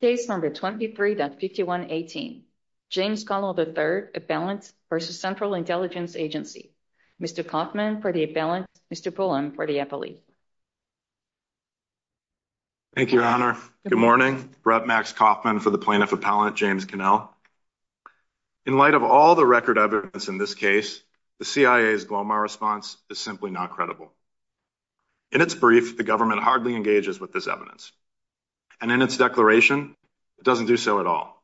Case No. 23.5118, James Connell, III, Appellant v. Central Intelligence Agency. Mr. Kaufman for the Appellant, Mr. Pullen for the Appellee. Thank you, Your Honor. Good morning. Brett Max Kaufman for the Plaintiff Appellant, James Connell. In light of all the record evidence in this case, the CIA's Glomar response is simply not credible. In its brief, the government hardly engages with this evidence. And in its declaration, it doesn't do so at all.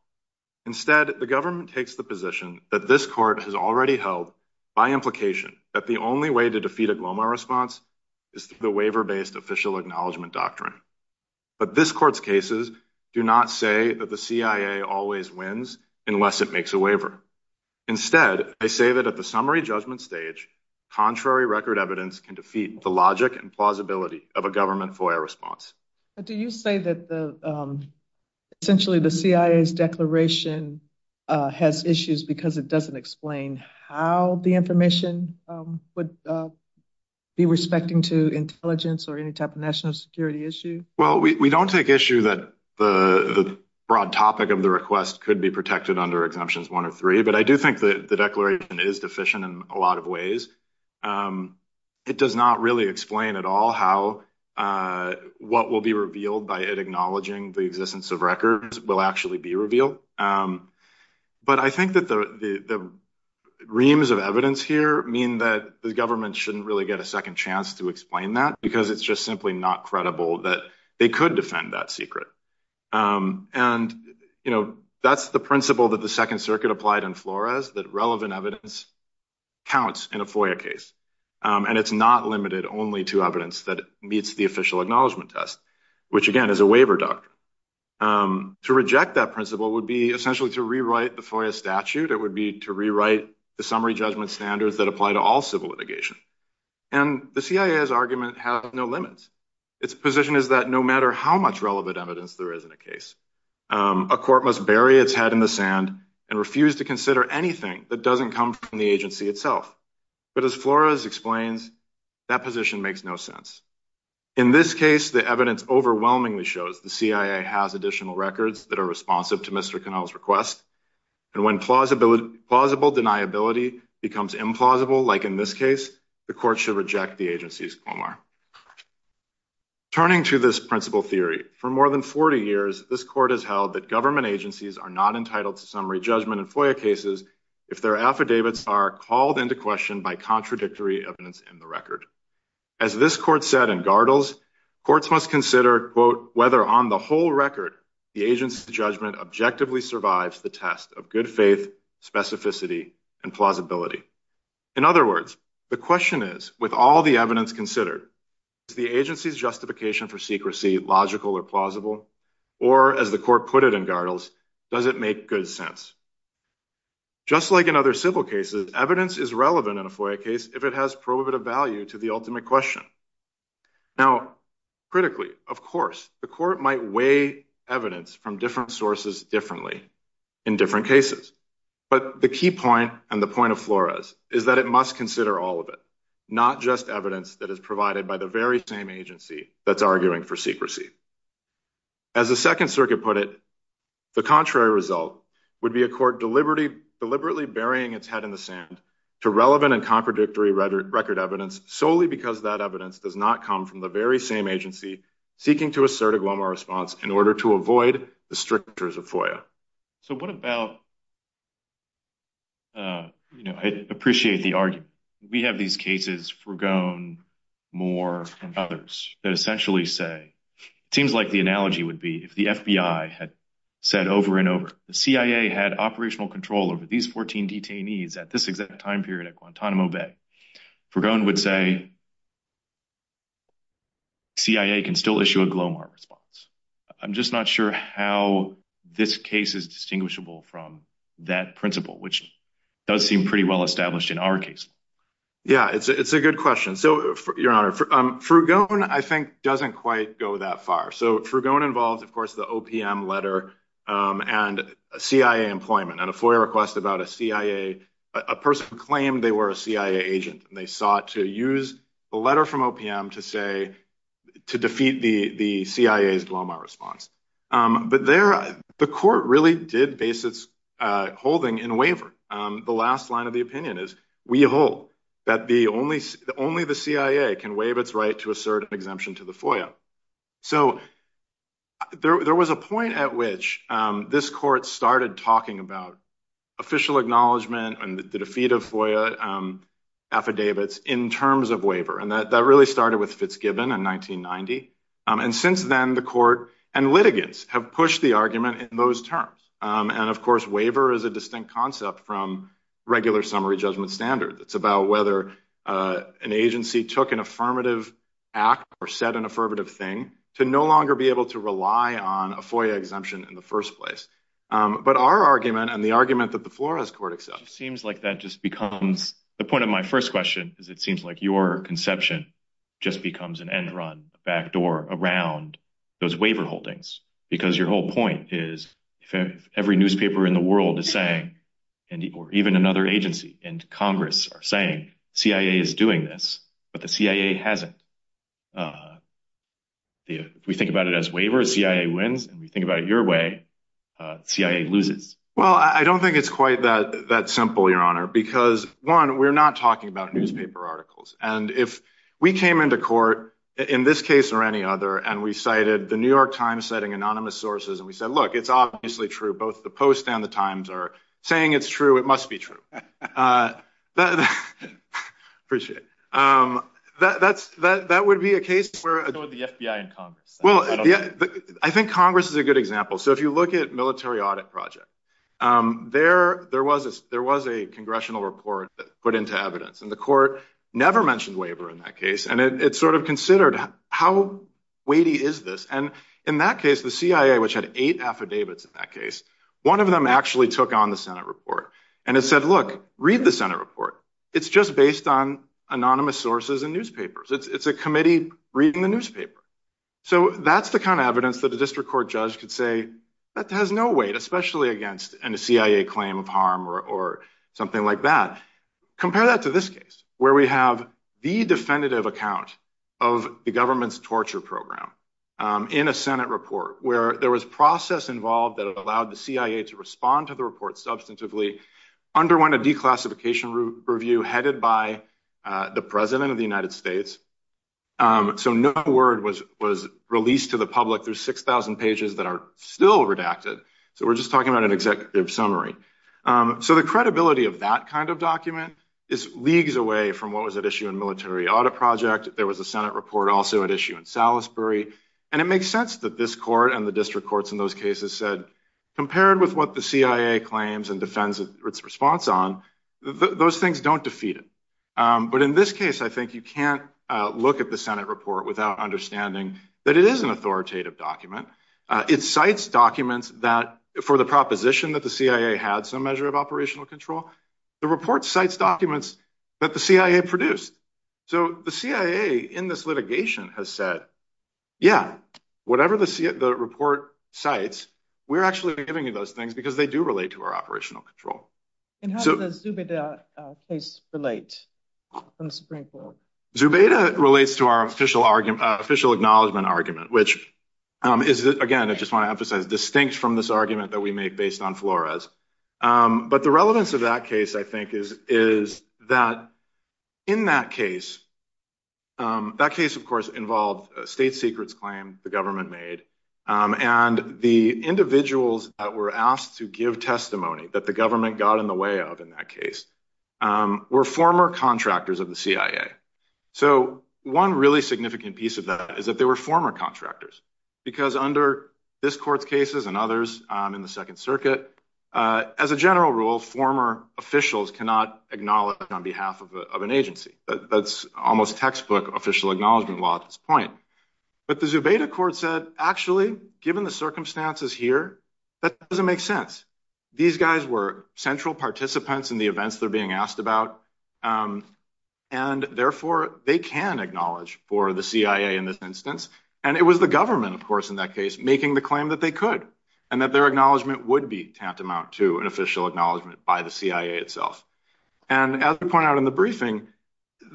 Instead, the government takes the position that this court has already held by implication that the only way to defeat a Glomar response is through the waiver-based official acknowledgement doctrine. But this court's cases do not say that the CIA always wins unless it makes a waiver. Instead, they say that at the summary judgment stage, contrary record evidence can defeat the logic and plausibility of a government FOIA response. But do you say that essentially the CIA's declaration has issues because it doesn't explain how the information would be respecting to intelligence or any type of national security issue? Well, we don't take issue that the broad topic of the request could be protected under Exemptions 1 or 3, but I do think that the declaration is deficient in a lot of ways. It does not really explain at all how what will be revealed by it acknowledging the existence of records will actually be revealed. But I think that the reams of evidence here mean that the government shouldn't really get a second chance to explain that because it's just simply not credible that they could defend that secret. And that's the principle that the Second Circuit applied in Flores, that relevant evidence counts in a FOIA case. And it's not limited only to evidence that meets the official acknowledgement test, which, again, is a waiver doctrine. To reject that principle would be essentially to rewrite the FOIA statute. It would be to rewrite the summary judgment standards that apply to all civil litigation. And the CIA's argument has no limits. Its position is that no matter how much relevant evidence there is in a case, a court must bury its head in the sand and refuse to consider anything that doesn't come from the agency itself. But as Flores explains, that position makes no sense. In this case, the evidence overwhelmingly shows the CIA has additional records that are responsive to Mr. Connell's request. And when plausible deniability becomes implausible, like in this case, the court should reject the agency's formula. Turning to this principle theory, for more than 40 years, this court has held that government agencies are not entitled to summary judgment in FOIA cases if their affidavits are called into question by contradictory evidence in the record. As this court said in Gardles, courts must consider, quote, whether on the whole record, the agency's judgment objectively survives the test of good faith, specificity, and plausibility. In other words, the question is, with all the evidence considered, is the agency's justification for secrecy logical or plausible? Or, as the court put it in Gardles, does it make good sense? Just like in other civil cases, evidence is relevant in a FOIA case if it has prohibitive value to the ultimate question. Now, critically, of course, the court might weigh evidence from different sources differently in different cases. But the key point and the point of Flores is that it must consider all of it, not just evidence that is provided by the very same agency that's arguing for secrecy. As the Second Circuit put it, the contrary result would be a court deliberately burying its head in the sand to relevant and contradictory record evidence solely because that evidence does not come from the very same agency seeking to assert a glomer response in order to avoid the strictures of FOIA. So what about, you know, I appreciate the argument. We have these cases, Fragon, Moore, and others that essentially say, it seems like the analogy would be if the FBI had said over and over, the CIA had operational control over these 14 detainees at this exact time period at Guantanamo Bay. Fragon would say, CIA can still issue a glomer response. I'm just not sure how this case is distinguishable from that principle, which does seem pretty well established in our case. Yeah, it's a good question. So, Your Honor, Fragon, I think, doesn't quite go that far. So Fragon involves, of course, the OPM letter and CIA employment and a FOIA request about a CIA, a person who claimed they were a CIA agent. And they sought to use the letter from OPM to say, to defeat the CIA's glomer response. But the court really did base its holding in waiver. The last line of the opinion is, we hold that only the CIA can waive its right to assert an exemption to the FOIA. So there was a point at which this court started talking about official acknowledgement and the defeat of FOIA affidavits in terms of waiver. And that really started with Fitzgibbon in 1990. And since then, the court and litigants have pushed the argument in those terms. And, of course, waiver is a distinct concept from regular summary judgment standard. It's about whether an agency took an affirmative act or said an affirmative thing to no longer be able to rely on a FOIA exemption in the first place. But our argument and the argument that the Flores Court accepts. Seems like that just becomes the point of my first question is it seems like your conception just becomes an end run backdoor around those waiver holdings. Because your whole point is every newspaper in the world is saying or even another agency and Congress are saying CIA is doing this. But the CIA hasn't. If we think about it as waiver, CIA wins. And we think about it your way. CIA loses. Well, I don't think it's quite that that simple, Your Honor, because, one, we're not talking about newspaper articles. And if we came into court in this case or any other and we cited the New York Times citing anonymous sources and we said, look, it's obviously true. Both the Post and the Times are saying it's true. It must be true. Appreciate that. That's that. That would be a case where the FBI and Congress. Well, I think Congress is a good example. So if you look at military audit project there, there was a there was a congressional report put into evidence. And the court never mentioned waiver in that case. And it sort of considered how weighty is this? And in that case, the CIA, which had eight affidavits in that case, one of them actually took on the Senate report and it said, look, read the Senate report. It's just based on anonymous sources and newspapers. It's a committee reading the newspaper. So that's the kind of evidence that a district court judge could say that has no weight, especially against a CIA claim of harm or something like that. Compare that to this case where we have the definitive account of the government's torture program in a Senate report where there was process involved that allowed the CIA to respond to the report substantively, underwent a declassification review headed by the president of the United States. So no word was was released to the public. There's six thousand pages that are still redacted. So we're just talking about an executive summary. So the credibility of that kind of document is leagues away from what was at issue in military audit project. There was a Senate report also at issue in Salisbury. And it makes sense that this court and the district courts in those cases said, compared with what the CIA claims and defends its response on, those things don't defeat it. But in this case, I think you can't look at the Senate report without understanding that it is an authoritative document. It cites documents that for the proposition that the CIA had some measure of operational control. The report cites documents that the CIA produced. So the CIA in this litigation has said, yeah, whatever the report cites, we're actually giving you those things because they do relate to our operational control. And how does the Zubeda case relate to the Supreme Court? Zubeda relates to our official argument, official acknowledgement argument, which is, again, I just want to emphasize distinct from this argument that we make based on Flores. But the relevance of that case, I think, is is that in that case, that case, of course, involved state secrets claim the government made. And the individuals that were asked to give testimony that the government got in the way of in that case were former contractors of the CIA. So one really significant piece of that is that they were former contractors, because under this court's cases and others in the Second Circuit, as a general rule, former officials cannot acknowledge on behalf of an agency. That's almost textbook official acknowledgement law at this point. But the Zubeda court said, actually, given the circumstances here, that doesn't make sense. These guys were central participants in the events that are being asked about. And therefore, they can acknowledge for the CIA in this instance. And it was the government, of course, in that case, making the claim that they could and that their acknowledgement would be tantamount to an official acknowledgement by the CIA itself. And as we point out in the briefing,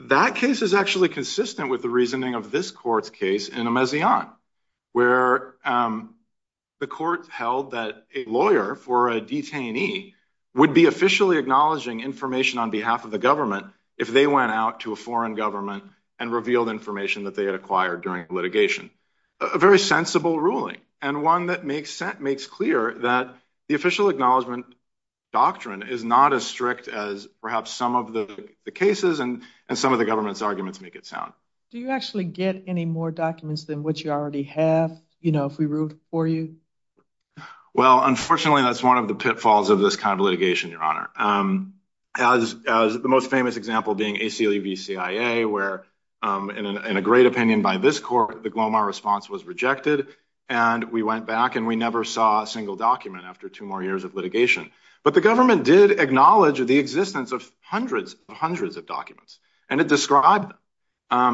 that case is actually consistent with the reasoning of this court's case in Amazighan, where the court held that a lawyer for a detainee would be officially acknowledging information on behalf of the government if they went out to a foreign government and revealed information that they had acquired during litigation. A very sensible ruling and one that makes clear that the official acknowledgement doctrine is not as strict as perhaps some of the cases and some of the government's arguments make it sound. Do you actually get any more documents than what you already have, you know, if we ruled for you? Well, unfortunately, that's one of the pitfalls of this kind of litigation, Your Honor. As the most famous example being ACLU v. CIA, where in a great opinion by this court, the Glomar response was rejected. And we went back and we never saw a single document after two more years of litigation. But the government did acknowledge the existence of hundreds of hundreds of documents and it described.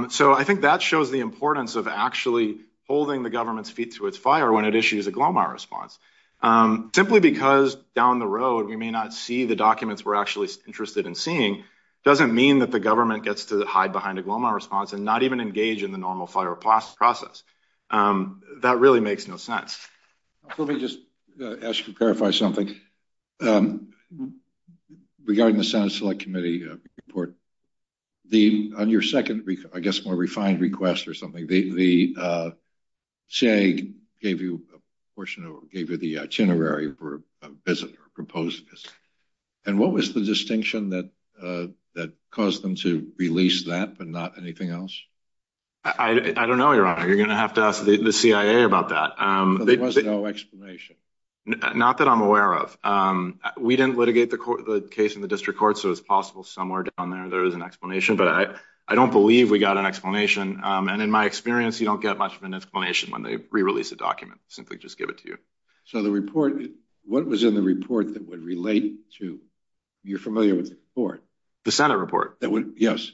So I think that shows the importance of actually holding the government's feet to its fire when it issues a Glomar response, simply because down the road we may not see the documents we're actually interested in seeing. It doesn't mean that the government gets to hide behind a Glomar response and not even engage in the normal fire process. That really makes no sense. Let me just ask you to clarify something regarding the Senate Select Committee report. On your second, I guess, more refined request or something, the CIA gave you the itinerary for a visit or proposed visit. And what was the distinction that caused them to release that and not anything else? I don't know, Your Honor. You're going to have to ask the CIA about that. There was no explanation. Not that I'm aware of. We didn't litigate the case in the district court, so it's possible somewhere down there there is an explanation. But I don't believe we got an explanation. And in my experience, you don't get much of an explanation when they re-release a document. Simply just give it to you. So the report, what was in the report that would relate to, you're familiar with the report. The Senate report. Yes.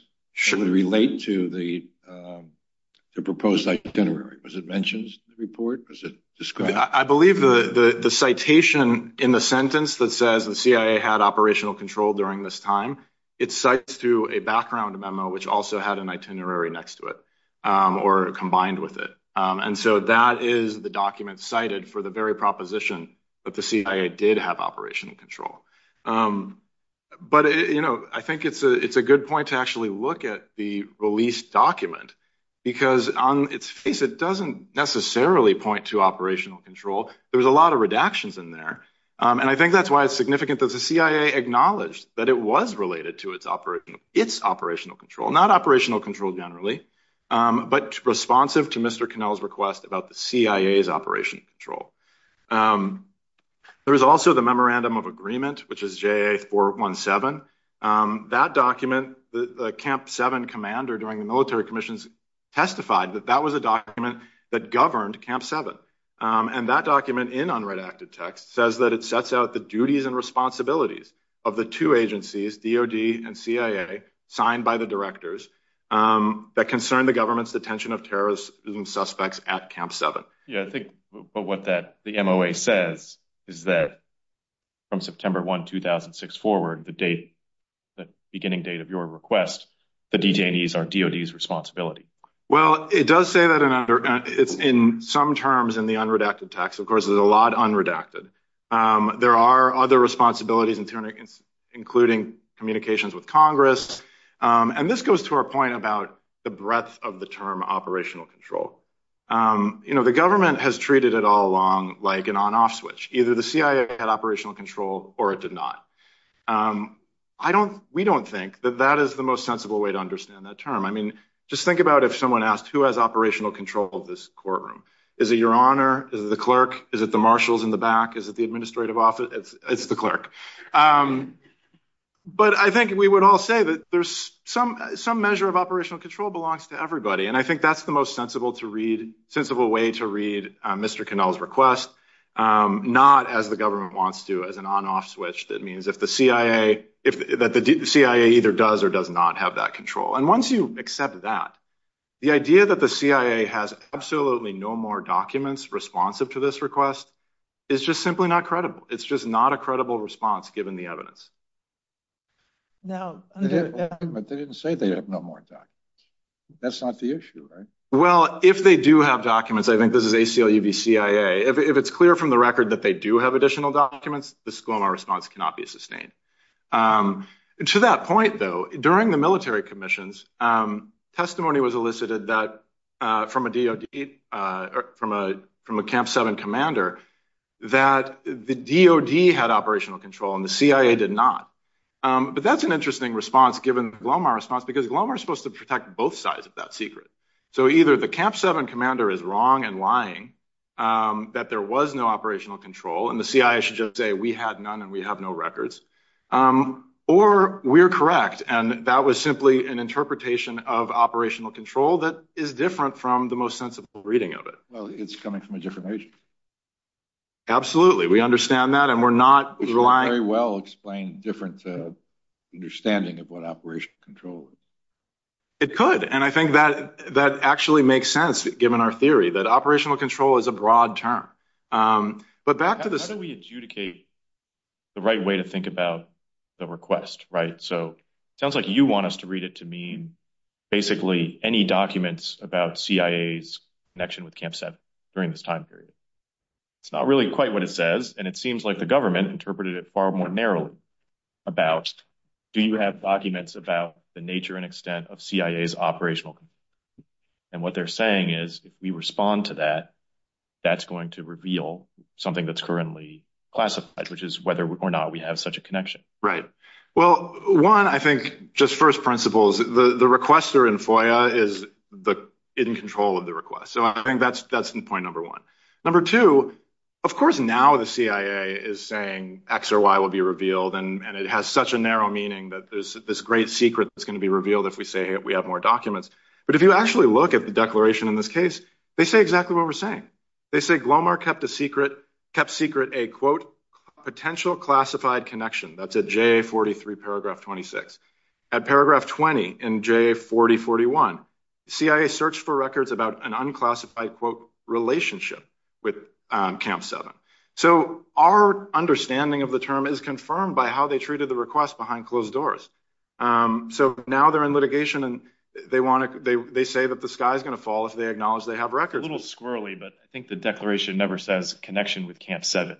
It would relate to the proposed itinerary. Was it mentioned in the report? Was it described? I believe the citation in the sentence that says the CIA had operational control during this time, it cites to a background memo which also had an itinerary next to it or combined with it. And so that is the document cited for the very proposition that the CIA did have operational control. But I think it's a good point to actually look at the released document, because on its face it doesn't necessarily point to operational control. There was a lot of redactions in there. And I think that's why it's significant that the CIA acknowledged that it was related to its operational control. Not operational control generally, but responsive to Mr. Connell's request about the CIA's operational control. There is also the Memorandum of Agreement, which is J.A. 417. That document, the Camp 7 commander during the military commissions testified that that was a document that governed Camp 7. And that document in unredacted text says that it sets out the duties and responsibilities of the two agencies, DOD and CIA, signed by the directors that concern the government's detention of terrorism suspects at Camp 7. But what the MOA says is that from September 1, 2006 forward, the beginning date of your request, the detainees are DOD's responsibility. Well, it does say that in some terms in the unredacted text. Of course, there's a lot unredacted. There are other responsibilities, including communications with Congress. And this goes to our point about the breadth of the term operational control. You know, the government has treated it all along like an on-off switch. Either the CIA had operational control or it did not. We don't think that that is the most sensible way to understand that term. I mean, just think about if someone asked who has operational control of this courtroom. Is it your honor? Is it the clerk? Is it the marshals in the back? Is it the administrative office? It's the clerk. But I think we would all say that there's some measure of operational control belongs to everybody. And I think that's the most sensible way to read Mr. Connell's request. Not as the government wants to, as an on-off switch that means that the CIA either does or does not have that control. And once you accept that, the idea that the CIA has absolutely no more documents responsive to this request is just simply not credible. It's just not a credible response, given the evidence. No. But they didn't say they have no more documents. That's not the issue, right? Well, if they do have documents, I think this is ACLU v. CIA. If it's clear from the record that they do have additional documents, the Sklomar response cannot be sustained. To that point, though, during the military commissions, testimony was elicited that from a DOD, from a Camp 7 commander, that the DOD had operational control and the CIA did not. But that's an interesting response, given the Sklomar response, because Sklomar is supposed to protect both sides of that secret. So either the Camp 7 commander is wrong and lying, that there was no operational control, and the CIA should just say we had none and we have no records. Or we're correct, and that was simply an interpretation of operational control that is different from the most sensible reading of it. Well, it's coming from a different region. Absolutely. We understand that, and we're not relying... Which would very well explain a different understanding of what operational control is. It could, and I think that actually makes sense, given our theory, that operational control is a broad term. But back to the... How do we adjudicate the right way to think about the request, right? So it sounds like you want us to read it to mean basically any documents about CIA's connection with Camp 7 during this time period. It's not really quite what it says, and it seems like the government interpreted it far more narrowly about, do you have documents about the nature and extent of CIA's operational control? And what they're saying is, if we respond to that, that's going to reveal something that's currently classified, which is whether or not we have such a connection. Right. Well, one, I think, just first principles, the requester in FOIA is in control of the request. So I think that's point number one. Number two, of course now the CIA is saying X or Y will be revealed, and it has such a narrow meaning that there's this great secret that's going to be revealed if we say we have more documents. But if you actually look at the declaration in this case, they say exactly what we're saying. They say Glomar kept secret a, quote, potential classified connection. That's at JA 43, paragraph 26. At paragraph 20 in JA 4041, CIA searched for records about an unclassified, quote, relationship with Camp 7. So our understanding of the term is confirmed by how they treated the request behind closed doors. So now they're in litigation and they say that the sky is going to fall if they acknowledge they have records. A little squirrely, but I think the declaration never says connection with Camp 7.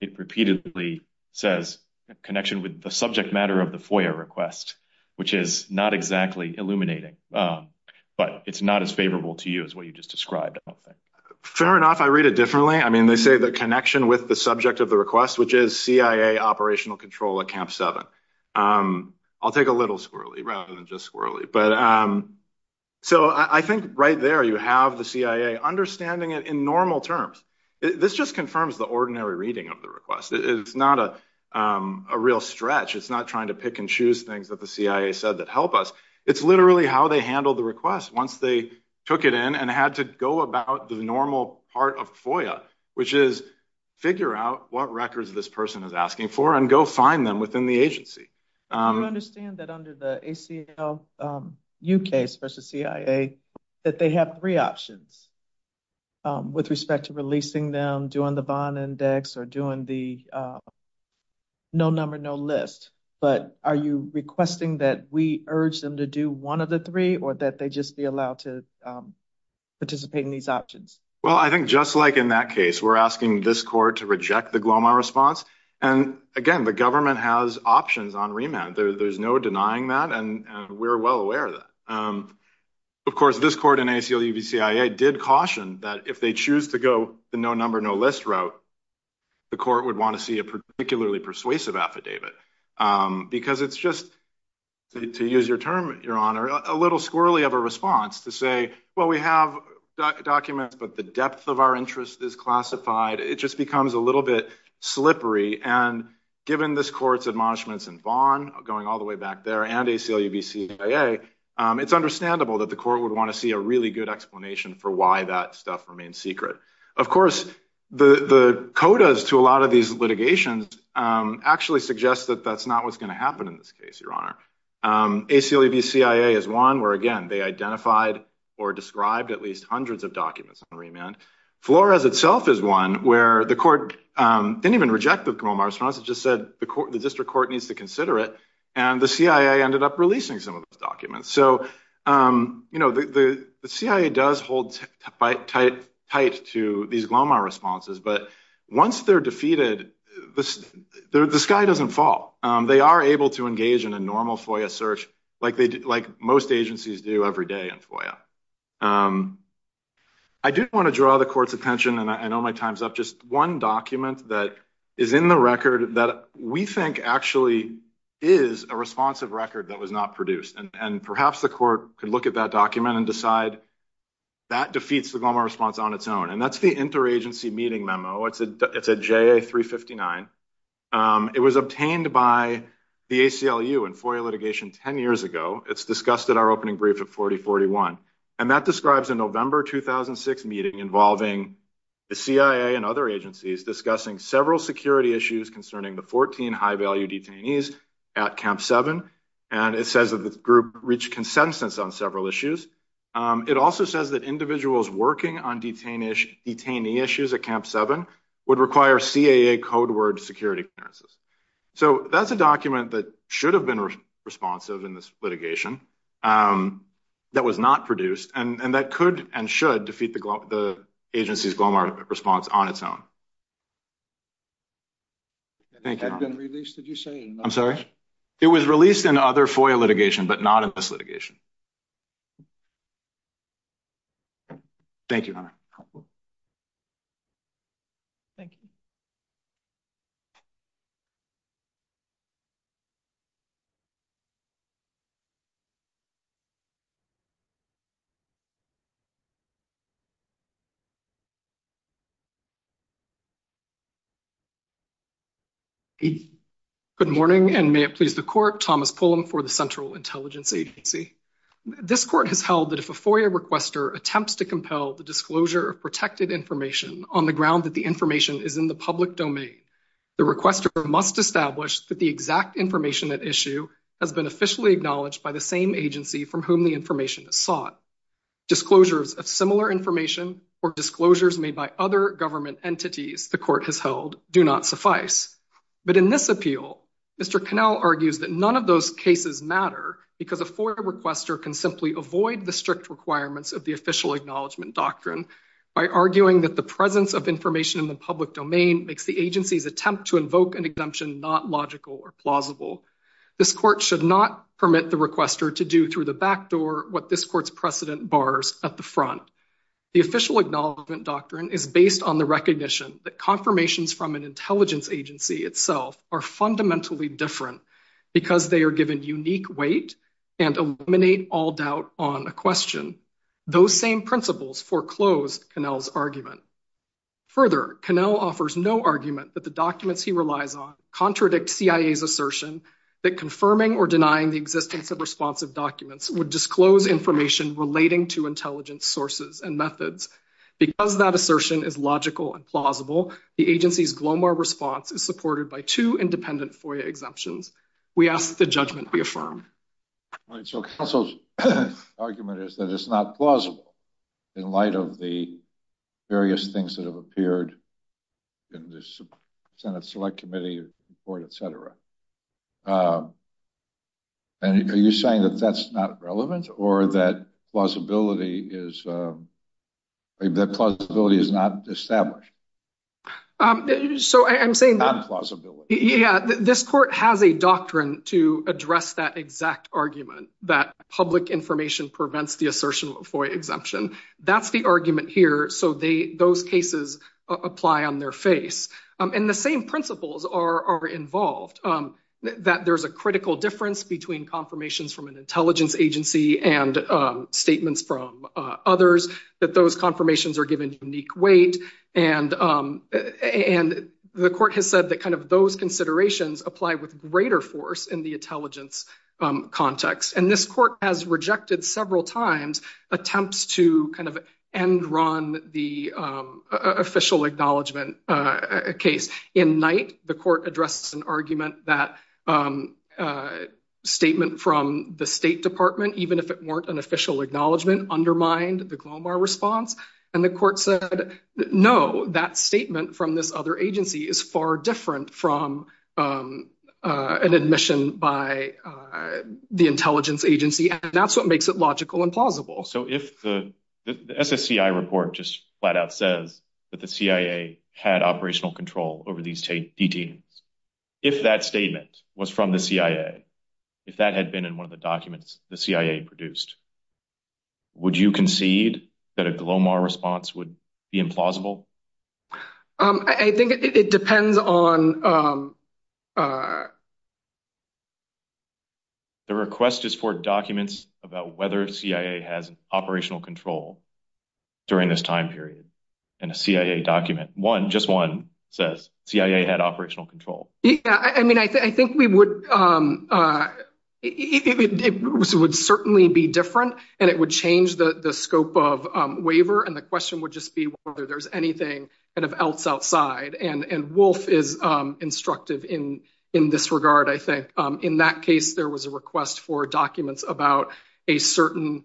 It repeatedly says connection with the subject matter of the FOIA request, which is not exactly illuminating, but it's not as favorable to you as what you just described, I don't think. Fair enough. I read it differently. I mean, they say the connection with the subject of the request, which is CIA operational control at Camp 7. I'll take a little squirrely rather than just squirrely. But so I think right there you have the CIA understanding it in normal terms. This just confirms the ordinary reading of the request. It's not a real stretch. It's not trying to pick and choose things that the CIA said that help us. It's literally how they handled the request once they took it in and had to go about the normal part of FOIA, which is figure out what records this person is asking for and go find them within the agency. I don't understand that under the ACLU case versus CIA that they have three options with respect to releasing them, doing the bond index or doing the no number, no list. But are you requesting that we urge them to do one of the three or that they just be allowed to participate in these options? Well, I think just like in that case, we're asking this court to reject the Glomar response. And again, the government has options on remand. There's no denying that. And we're well aware of that. Of course, this court in ACLU v. CIA did caution that if they choose to go the no number, no list route, the court would want to see a particularly persuasive affidavit because it's just to use your term, your honor, a little squirrely of a response to say, well, we have documents, but the depth of our interest is classified. It just becomes a little bit slippery. And given this court's admonishments in Vaughn going all the way back there and ACLU v. CIA, it's understandable that the court would want to see a really good explanation for why that stuff remains secret. Of course, the quotas to a lot of these litigations actually suggest that that's not what's going to happen in this case, your honor. ACLU v. CIA is one where, again, they identified or described at least hundreds of documents on remand. Flores itself is one where the court didn't even reject the Glomar response. It just said the court, the district court needs to consider it. And the CIA ended up releasing some of those documents. So, you know, the CIA does hold tight to these Glomar responses. But once they're defeated, the sky doesn't fall. They are able to engage in a normal FOIA search like they like most agencies do every day in FOIA. I do want to draw the court's attention, and I know my time's up, just one document that is in the record that we think actually is a responsive record that was not produced. And perhaps the court could look at that document and decide that defeats the Glomar response on its own. And that's the interagency meeting memo. It's a J.A. 359. It was obtained by the ACLU in FOIA litigation 10 years ago. It's discussed at our opening brief at 4041. And that describes a November 2006 meeting involving the CIA and other agencies discussing several security issues concerning the 14 high value detainees at Camp 7. And it says that the group reached consensus on several issues. It also says that individuals working on detainee issues at Camp 7 would require CAA code word security clearance. So that's a document that should have been responsive in this litigation that was not produced and that could and should defeat the agency's Glomar response on its own. Thank you. I'm sorry. It was released in other FOIA litigation, but not in this litigation. Thank you. Thank you. Good morning, and may it please the court. Thomas Pullum for the Central Intelligence Agency. This court has held that if a FOIA requester attempts to compel the disclosure of protected information on the ground that the information is in the public domain, the requester must establish that the exact information at issue has been officially acknowledged by the same agency from whom the information is sought. Disclosures of similar information or disclosures made by other government entities the court has held do not suffice. But in this appeal, Mr. Connell argues that none of those cases matter because a FOIA requester can simply avoid the strict requirements of the official acknowledgement doctrine by arguing that the presence of information in the public domain makes the agency's attempt to invoke an exemption not logical or plausible. This court should not permit the requester to do through the back door what this court's precedent bars at the front. The official acknowledgement doctrine is based on the recognition that confirmations from an intelligence agency itself are fundamentally different because they are given unique weight and eliminate all doubt on a question. Those same principles foreclose Connell's argument. Further, Connell offers no argument that the documents he relies on contradict CIA's assertion that confirming or denying the existence of responsive documents would disclose information relating to intelligence sources and methods. Because that assertion is logical and plausible, the agency's GLOMAR response is supported by two independent FOIA exemptions. We ask that the judgment be affirmed. So counsel's argument is that it's not plausible in light of the various things that have appeared in the Senate Select Committee report, etc. And are you saying that that's not relevant or that plausibility is that plausibility is not established? So I'm saying that plausibility. Yeah, this court has a doctrine to address that exact argument that public information prevents the assertion of FOIA exemption. That's the argument here. So those cases apply on their face. And the same principles are involved, that there's a critical difference between confirmations from an intelligence agency and statements from others, that those confirmations are given unique weight. And the court has said that kind of those considerations apply with greater force in the intelligence context. And this court has rejected several times attempts to kind of end run the official acknowledgement case. In night, the court addressed an argument that a statement from the State Department, even if it weren't an official acknowledgement, undermined the GLOMAR response. And the court said, no, that statement from this other agency is far different from an admission by the intelligence agency. And that's what makes it logical and plausible. So if the SSCI report just flat out says that the CIA had operational control over these detainees, if that statement was from the CIA, if that had been in one of the documents the CIA produced, would you concede that a GLOMAR response would be implausible? I think it depends on the request is for documents about whether CIA has operational control during this time period. And a CIA document, one, just one says CIA had operational control. I mean, I think we would. It would certainly be different and it would change the scope of waiver. And the question would just be whether there's anything else outside. And Wolf is instructive in this regard, I think. In that case, there was a request for documents about a certain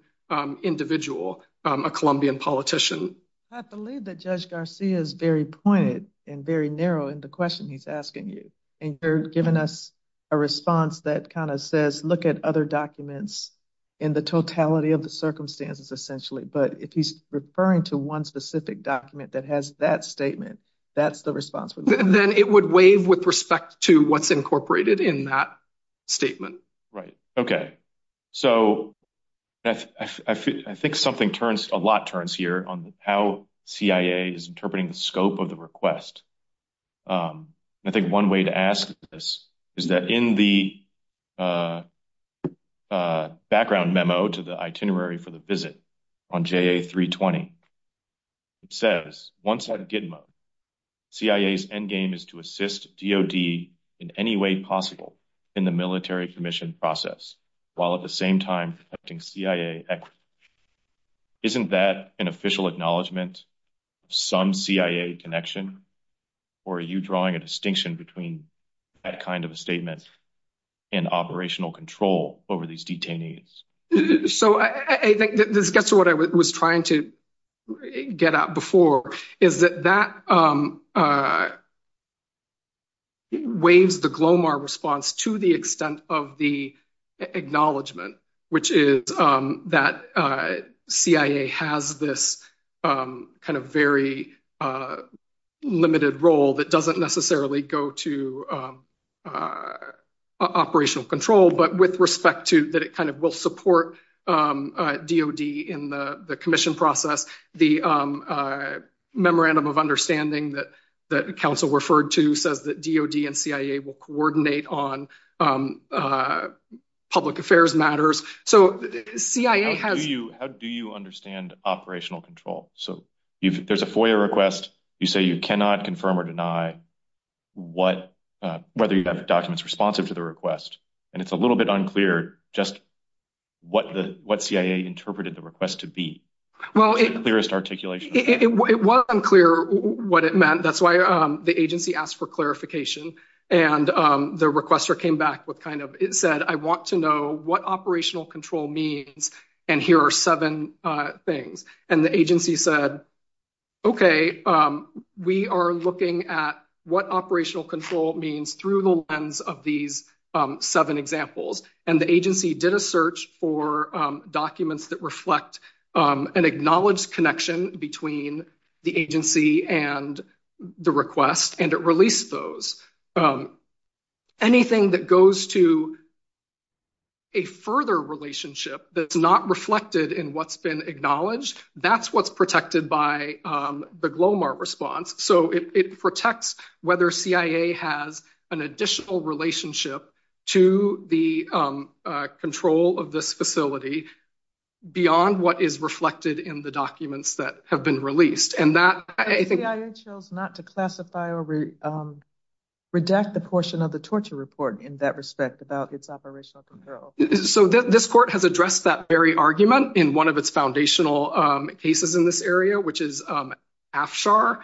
individual, a Colombian politician. I believe that Judge Garcia is very pointed and very narrow in the question he's asking you. And you're giving us a response that kind of says, look at other documents in the totality of the circumstances, essentially. But if he's referring to one specific document that has that statement, that's the response. Then it would waive with respect to what's incorporated in that statement. Right. OK. So I think something turns a lot turns here on how CIA is interpreting the scope of the request. I think one way to ask this is that in the background memo to the itinerary for the visit on J.A. 320. It says once a good C.I.A.'s endgame is to assist D.O.D. in any way possible in the military commission process. While at the same time, I think C.I.A. isn't that an official acknowledgement of some C.I.A. connection? Or are you drawing a distinction between that kind of a statement and operational control over these detainees? So I think this gets to what I was trying to get out before is that that. Waves the Glomar response to the extent of the acknowledgement, which is that C.I.A. has this kind of very limited role that doesn't necessarily go to operational control, but with respect to that, it kind of will support D.O.D. in the commission process. The memorandum of understanding that the council referred to says that D.O.D. and C.I.A. will coordinate on public affairs matters. So C.I.A. has you. How do you understand operational control? So there's a FOIA request. You say you cannot confirm or deny what whether you have documents responsive to the request. And it's a little bit unclear just what the what C.I.A. interpreted the request to be. Well, the clearest articulation, it was unclear what it meant. That's why the agency asked for clarification. And the requester came back with kind of it said, I want to know what operational control means. And here are seven things. And the agency said, OK, we are looking at what operational control means through the lens of these seven examples. And the agency did a search for documents that reflect an acknowledged connection between the agency and the request. And it released those. Anything that goes to. A further relationship that's not reflected in what's been acknowledged, that's what's protected by the Glomar response. So it protects whether C.I.A. has an additional relationship to the control of this facility beyond what is reflected in the documents that have been released. C.I.A. chose not to classify or redact the portion of the torture report in that respect about its operational control. So this court has addressed that very argument in one of its foundational cases in this area, which is Afshar.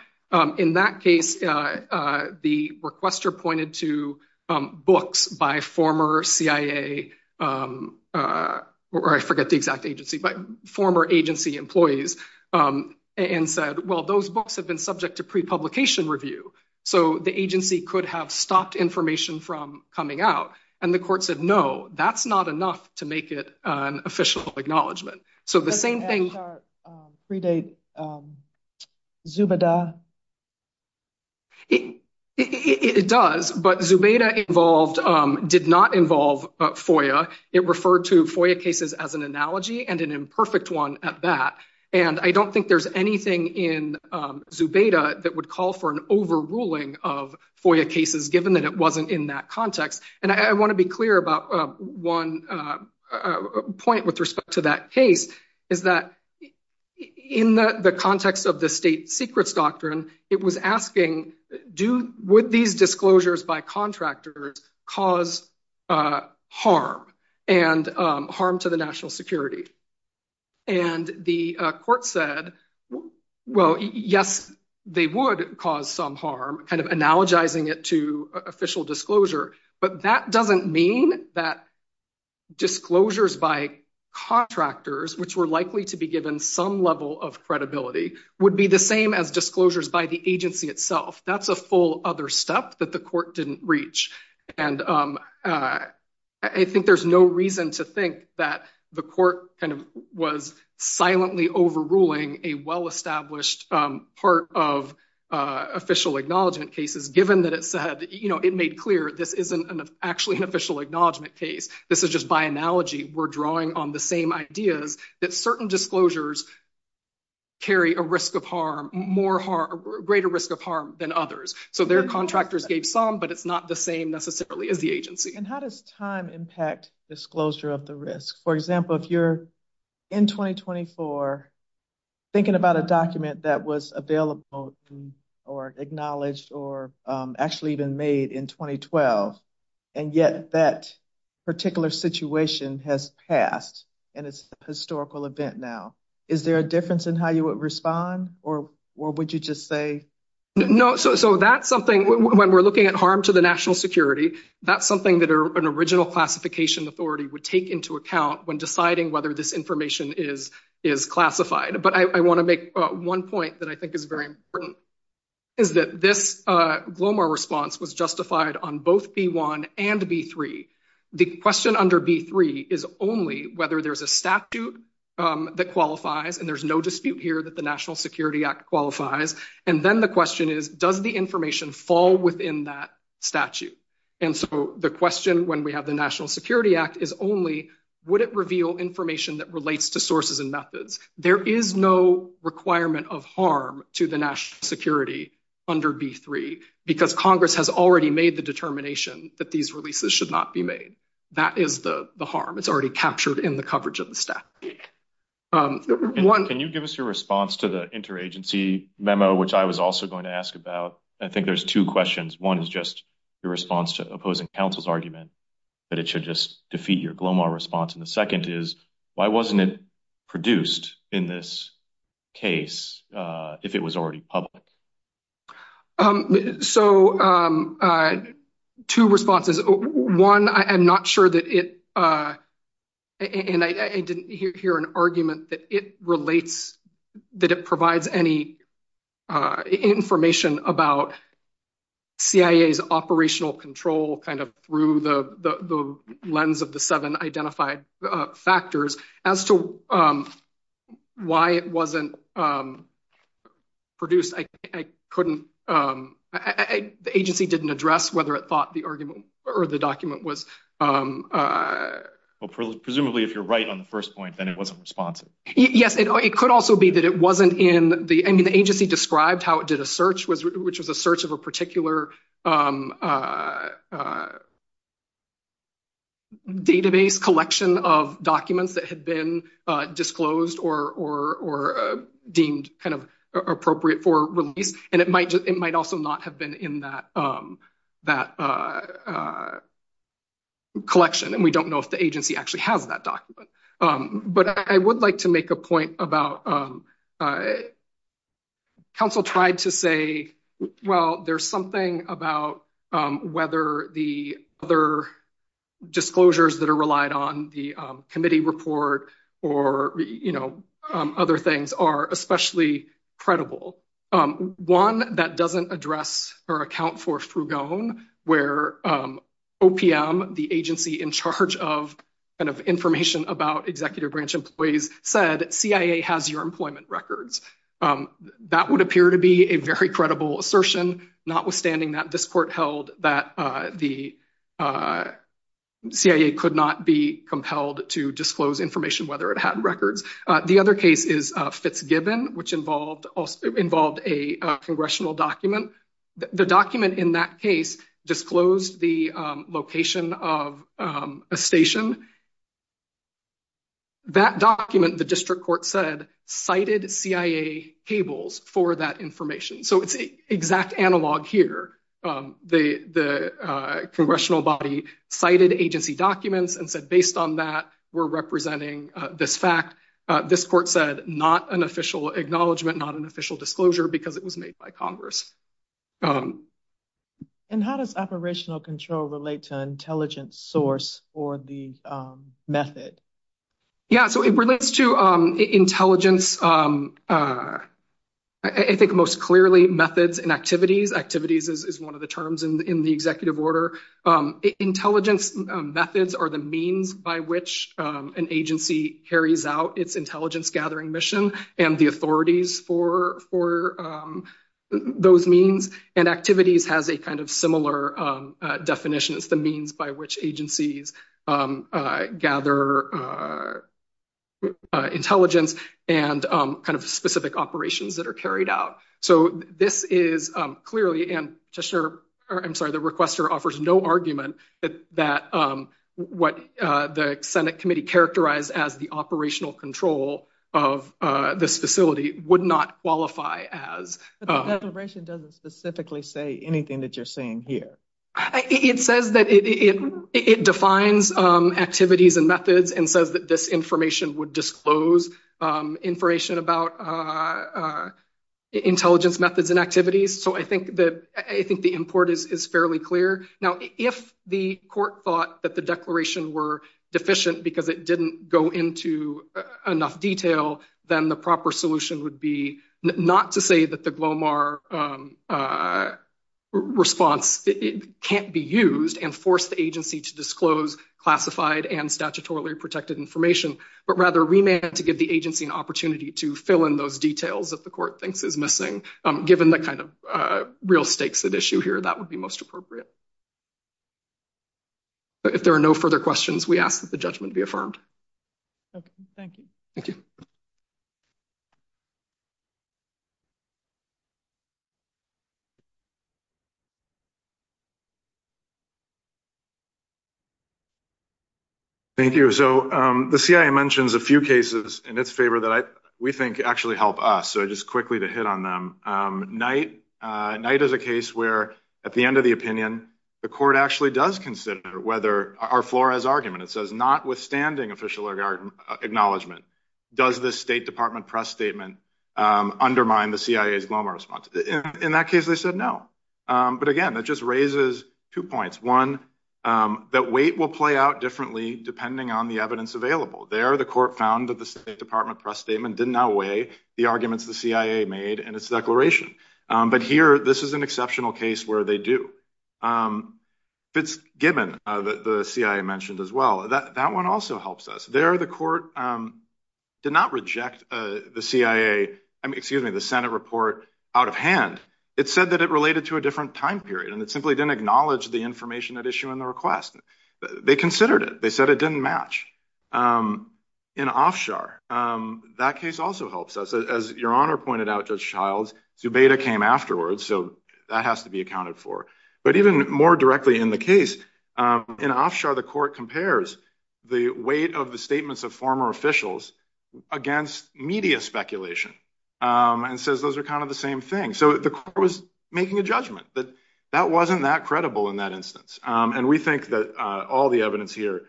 In that case, the requester pointed to books by former C.I.A. or I forget the exact agency, but former agency employees and said, well, those books have been subject to prepublication review. So the agency could have stopped information from coming out. And the court said, no, that's not enough to make it an official acknowledgement. So the same thing. Afshar predate Zubeda. It does, but Zubeda involved did not involve FOIA. It referred to FOIA cases as an analogy and an imperfect one at that. And I don't think there's anything in Zubeda that would call for an overruling of FOIA cases, given that it wasn't in that context. And I want to be clear about one point with respect to that case, is that in the context of the state secrets doctrine, it was asking, would these disclosures by contractors cause harm and harm to the national security? And the court said, well, yes, they would cause some harm, kind of analogizing it to official disclosure. But that doesn't mean that disclosures by contractors, which were likely to be given some level of credibility, would be the same as disclosures by the agency itself. That's a full other step that the court didn't reach. And I think there's no reason to think that the court was silently overruling a well-established part of official acknowledgement cases, given that it said, you know, it made clear this isn't actually an official acknowledgement case. This is just by analogy. We're drawing on the same ideas that certain disclosures carry a risk of harm, greater risk of harm than others. So their contractors gave some, but it's not the same necessarily as the agency. And how does time impact disclosure of the risk? For example, if you're in 2024 thinking about a document that was available or acknowledged or actually even made in 2012, and yet that particular situation has passed and it's a historical event now, is there a difference in how you would respond or would you just say? No. So that's something when we're looking at harm to the national security, that's something that an original classification authority would take into account when deciding whether this information is classified. But I want to make one point that I think is very important, is that this GLOMAR response was justified on both B-1 and B-3. The question under B-3 is only whether there's a statute that qualifies, and there's no dispute here that the National Security Act qualifies. And then the question is, does the information fall within that statute? And so the question when we have the National Security Act is only, would it reveal information that relates to sources and methods? There is no requirement of harm to the national security under B-3 because Congress has already made the determination that these releases should not be made. That is the harm. It's already captured in the coverage of the statute. Can you give us your response to the interagency memo, which I was also going to ask about? I think there's two questions. One is just your response to opposing counsel's argument that it should just defeat your GLOMAR response. And the second is, why wasn't it produced in this case if it was already public? So two responses. One, I'm not sure that it, and I didn't hear an argument that it relates, that it provides any information about CIA's operational control kind of through the lens of the seven identified factors. As to why it wasn't produced, I couldn't, the agency didn't address whether it thought the argument or the document was. Well, presumably if you're right on the first point, then it wasn't responsive. Yes, it could also be that it wasn't in the, I mean, the agency described how it did a search, which was a search of a particular database collection of documents that had been disclosed or deemed kind of appropriate for release. And it might also not have been in that collection. And we don't know if the agency actually has that document. But I would like to make a point about, counsel tried to say, well, there's something about whether the other disclosures that are relied on the committee report or, you know, other things are especially credible. One that doesn't address or account for Frugone, where OPM, the agency in charge of kind of information about executive branch employees, said CIA has your employment records. That would appear to be a very credible assertion, notwithstanding that this court held that the CIA could not be compelled to disclose information whether it had records. The other case is Fitzgibbon, which involved a congressional document. The document in that case disclosed the location of a station. That document, the district court said, cited CIA cables for that information. So it's exact analog here. The congressional body cited agency documents and said, based on that, we're representing this fact. This court said not an official acknowledgement, not an official disclosure because it was made by Congress. And how does operational control relate to intelligence source or the method? Yeah, so it relates to intelligence, I think most clearly methods and activities. Activities is one of the terms in the executive order. Intelligence methods are the means by which an agency carries out its intelligence gathering mission and the authorities for those means. And activities has a kind of similar definition. It's the means by which agencies gather intelligence and kind of specific operations that are carried out. So this is clearly, and I'm sorry, the requester offers no argument that what the Senate committee characterized as the operational control of this facility would not qualify as. The declaration doesn't specifically say anything that you're saying here. It says that it defines activities and methods and says that this information would disclose information about intelligence methods and activities. So I think that I think the import is fairly clear. Now, if the court thought that the declaration were deficient because it didn't go into enough detail, then the proper solution would be not to say that the Glomar response can't be used and force the agency to disclose classified and statutorily protected information, but rather remain to give the agency an opportunity to fill in those details that the court thinks is missing. Given the kind of real stakes at issue here, that would be most appropriate. If there are no further questions, we ask that the judgment be affirmed. Thank you. Thank you. Thank you. So the CIA mentions a few cases in its favor that we think actually help us. So just quickly to hit on them. Night night is a case where at the end of the opinion, the court actually does consider whether our floor has argument. It says notwithstanding official acknowledgment, does the State Department press statement undermine the CIA's Glomar response? In that case, they said no. But again, that just raises two points. One, that weight will play out differently depending on the evidence available. There, the court found that the State Department press statement did not weigh the arguments the CIA made in its declaration. But here this is an exceptional case where they do. Fitzgibbon, the CIA mentioned as well, that that one also helps us there. The court did not reject the CIA. I mean, excuse me, the Senate report out of hand. It said that it related to a different time period and it simply didn't acknowledge the information at issue in the request. They considered it. They said it didn't match in offshore. That case also helps us. As your honor pointed out, Judge Childs, Zubeda came afterwards. So that has to be accounted for. But even more directly in the case, in offshore, the court compares the weight of the statements of former officials against media speculation and says those are kind of the same thing. So the court was making a judgment that that wasn't that credible in that instance. And we think that all the evidence here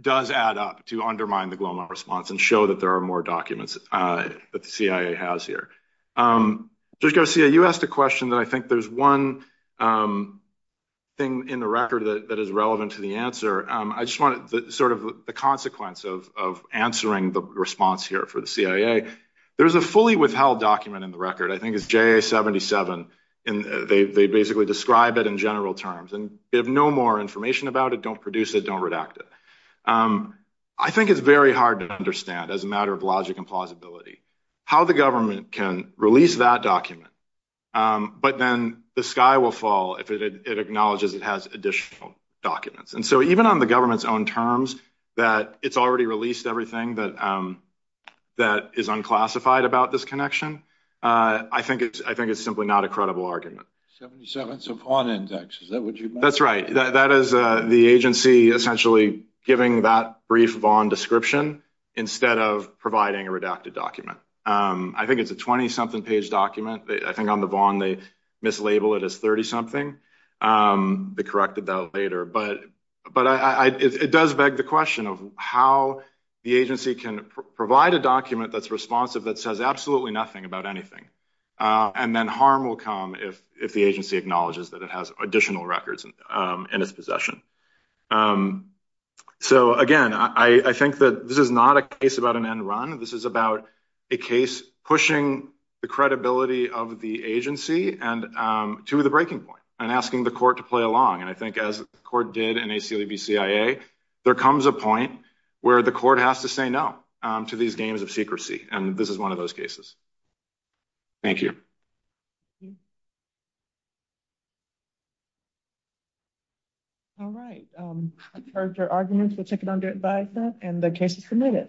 does add up to undermine the Glomar response and show that there are more documents that the CIA has here. Judge Garcia, you asked a question that I think there's one thing in the record that is relevant to the answer. I just want to sort of the consequence of answering the response here for the CIA. There is a fully withheld document in the record, I think it's J.A. 77. And they basically describe it in general terms and have no more information about it. Don't produce it. Don't redact it. I think it's very hard to understand as a matter of logic and plausibility. How the government can release that document. But then the sky will fall if it acknowledges it has additional documents. And so even on the government's own terms that it's already released everything that that is unclassified about this connection. I think it's I think it's simply not a credible argument. So on index, is that what you. That's right. That is the agency essentially giving that brief Vaughn description instead of providing a redacted document. I think it's a 20 something page document. I think on the Vaughn, they mislabel it as 30 something. They corrected that later. But but I it does beg the question of how the agency can provide a document that's responsive, that says absolutely nothing about anything. And then harm will come if if the agency acknowledges that it has additional records in its possession. So, again, I think that this is not a case about an end run. This is about a case pushing the credibility of the agency and to the breaking point and asking the court to play along. And I think as the court did in a CLAB CIA, there comes a point where the court has to say no to these games of secrecy. And this is one of those cases. Thank you. All right. I heard your arguments. We'll take it under advisement and the case is submitted.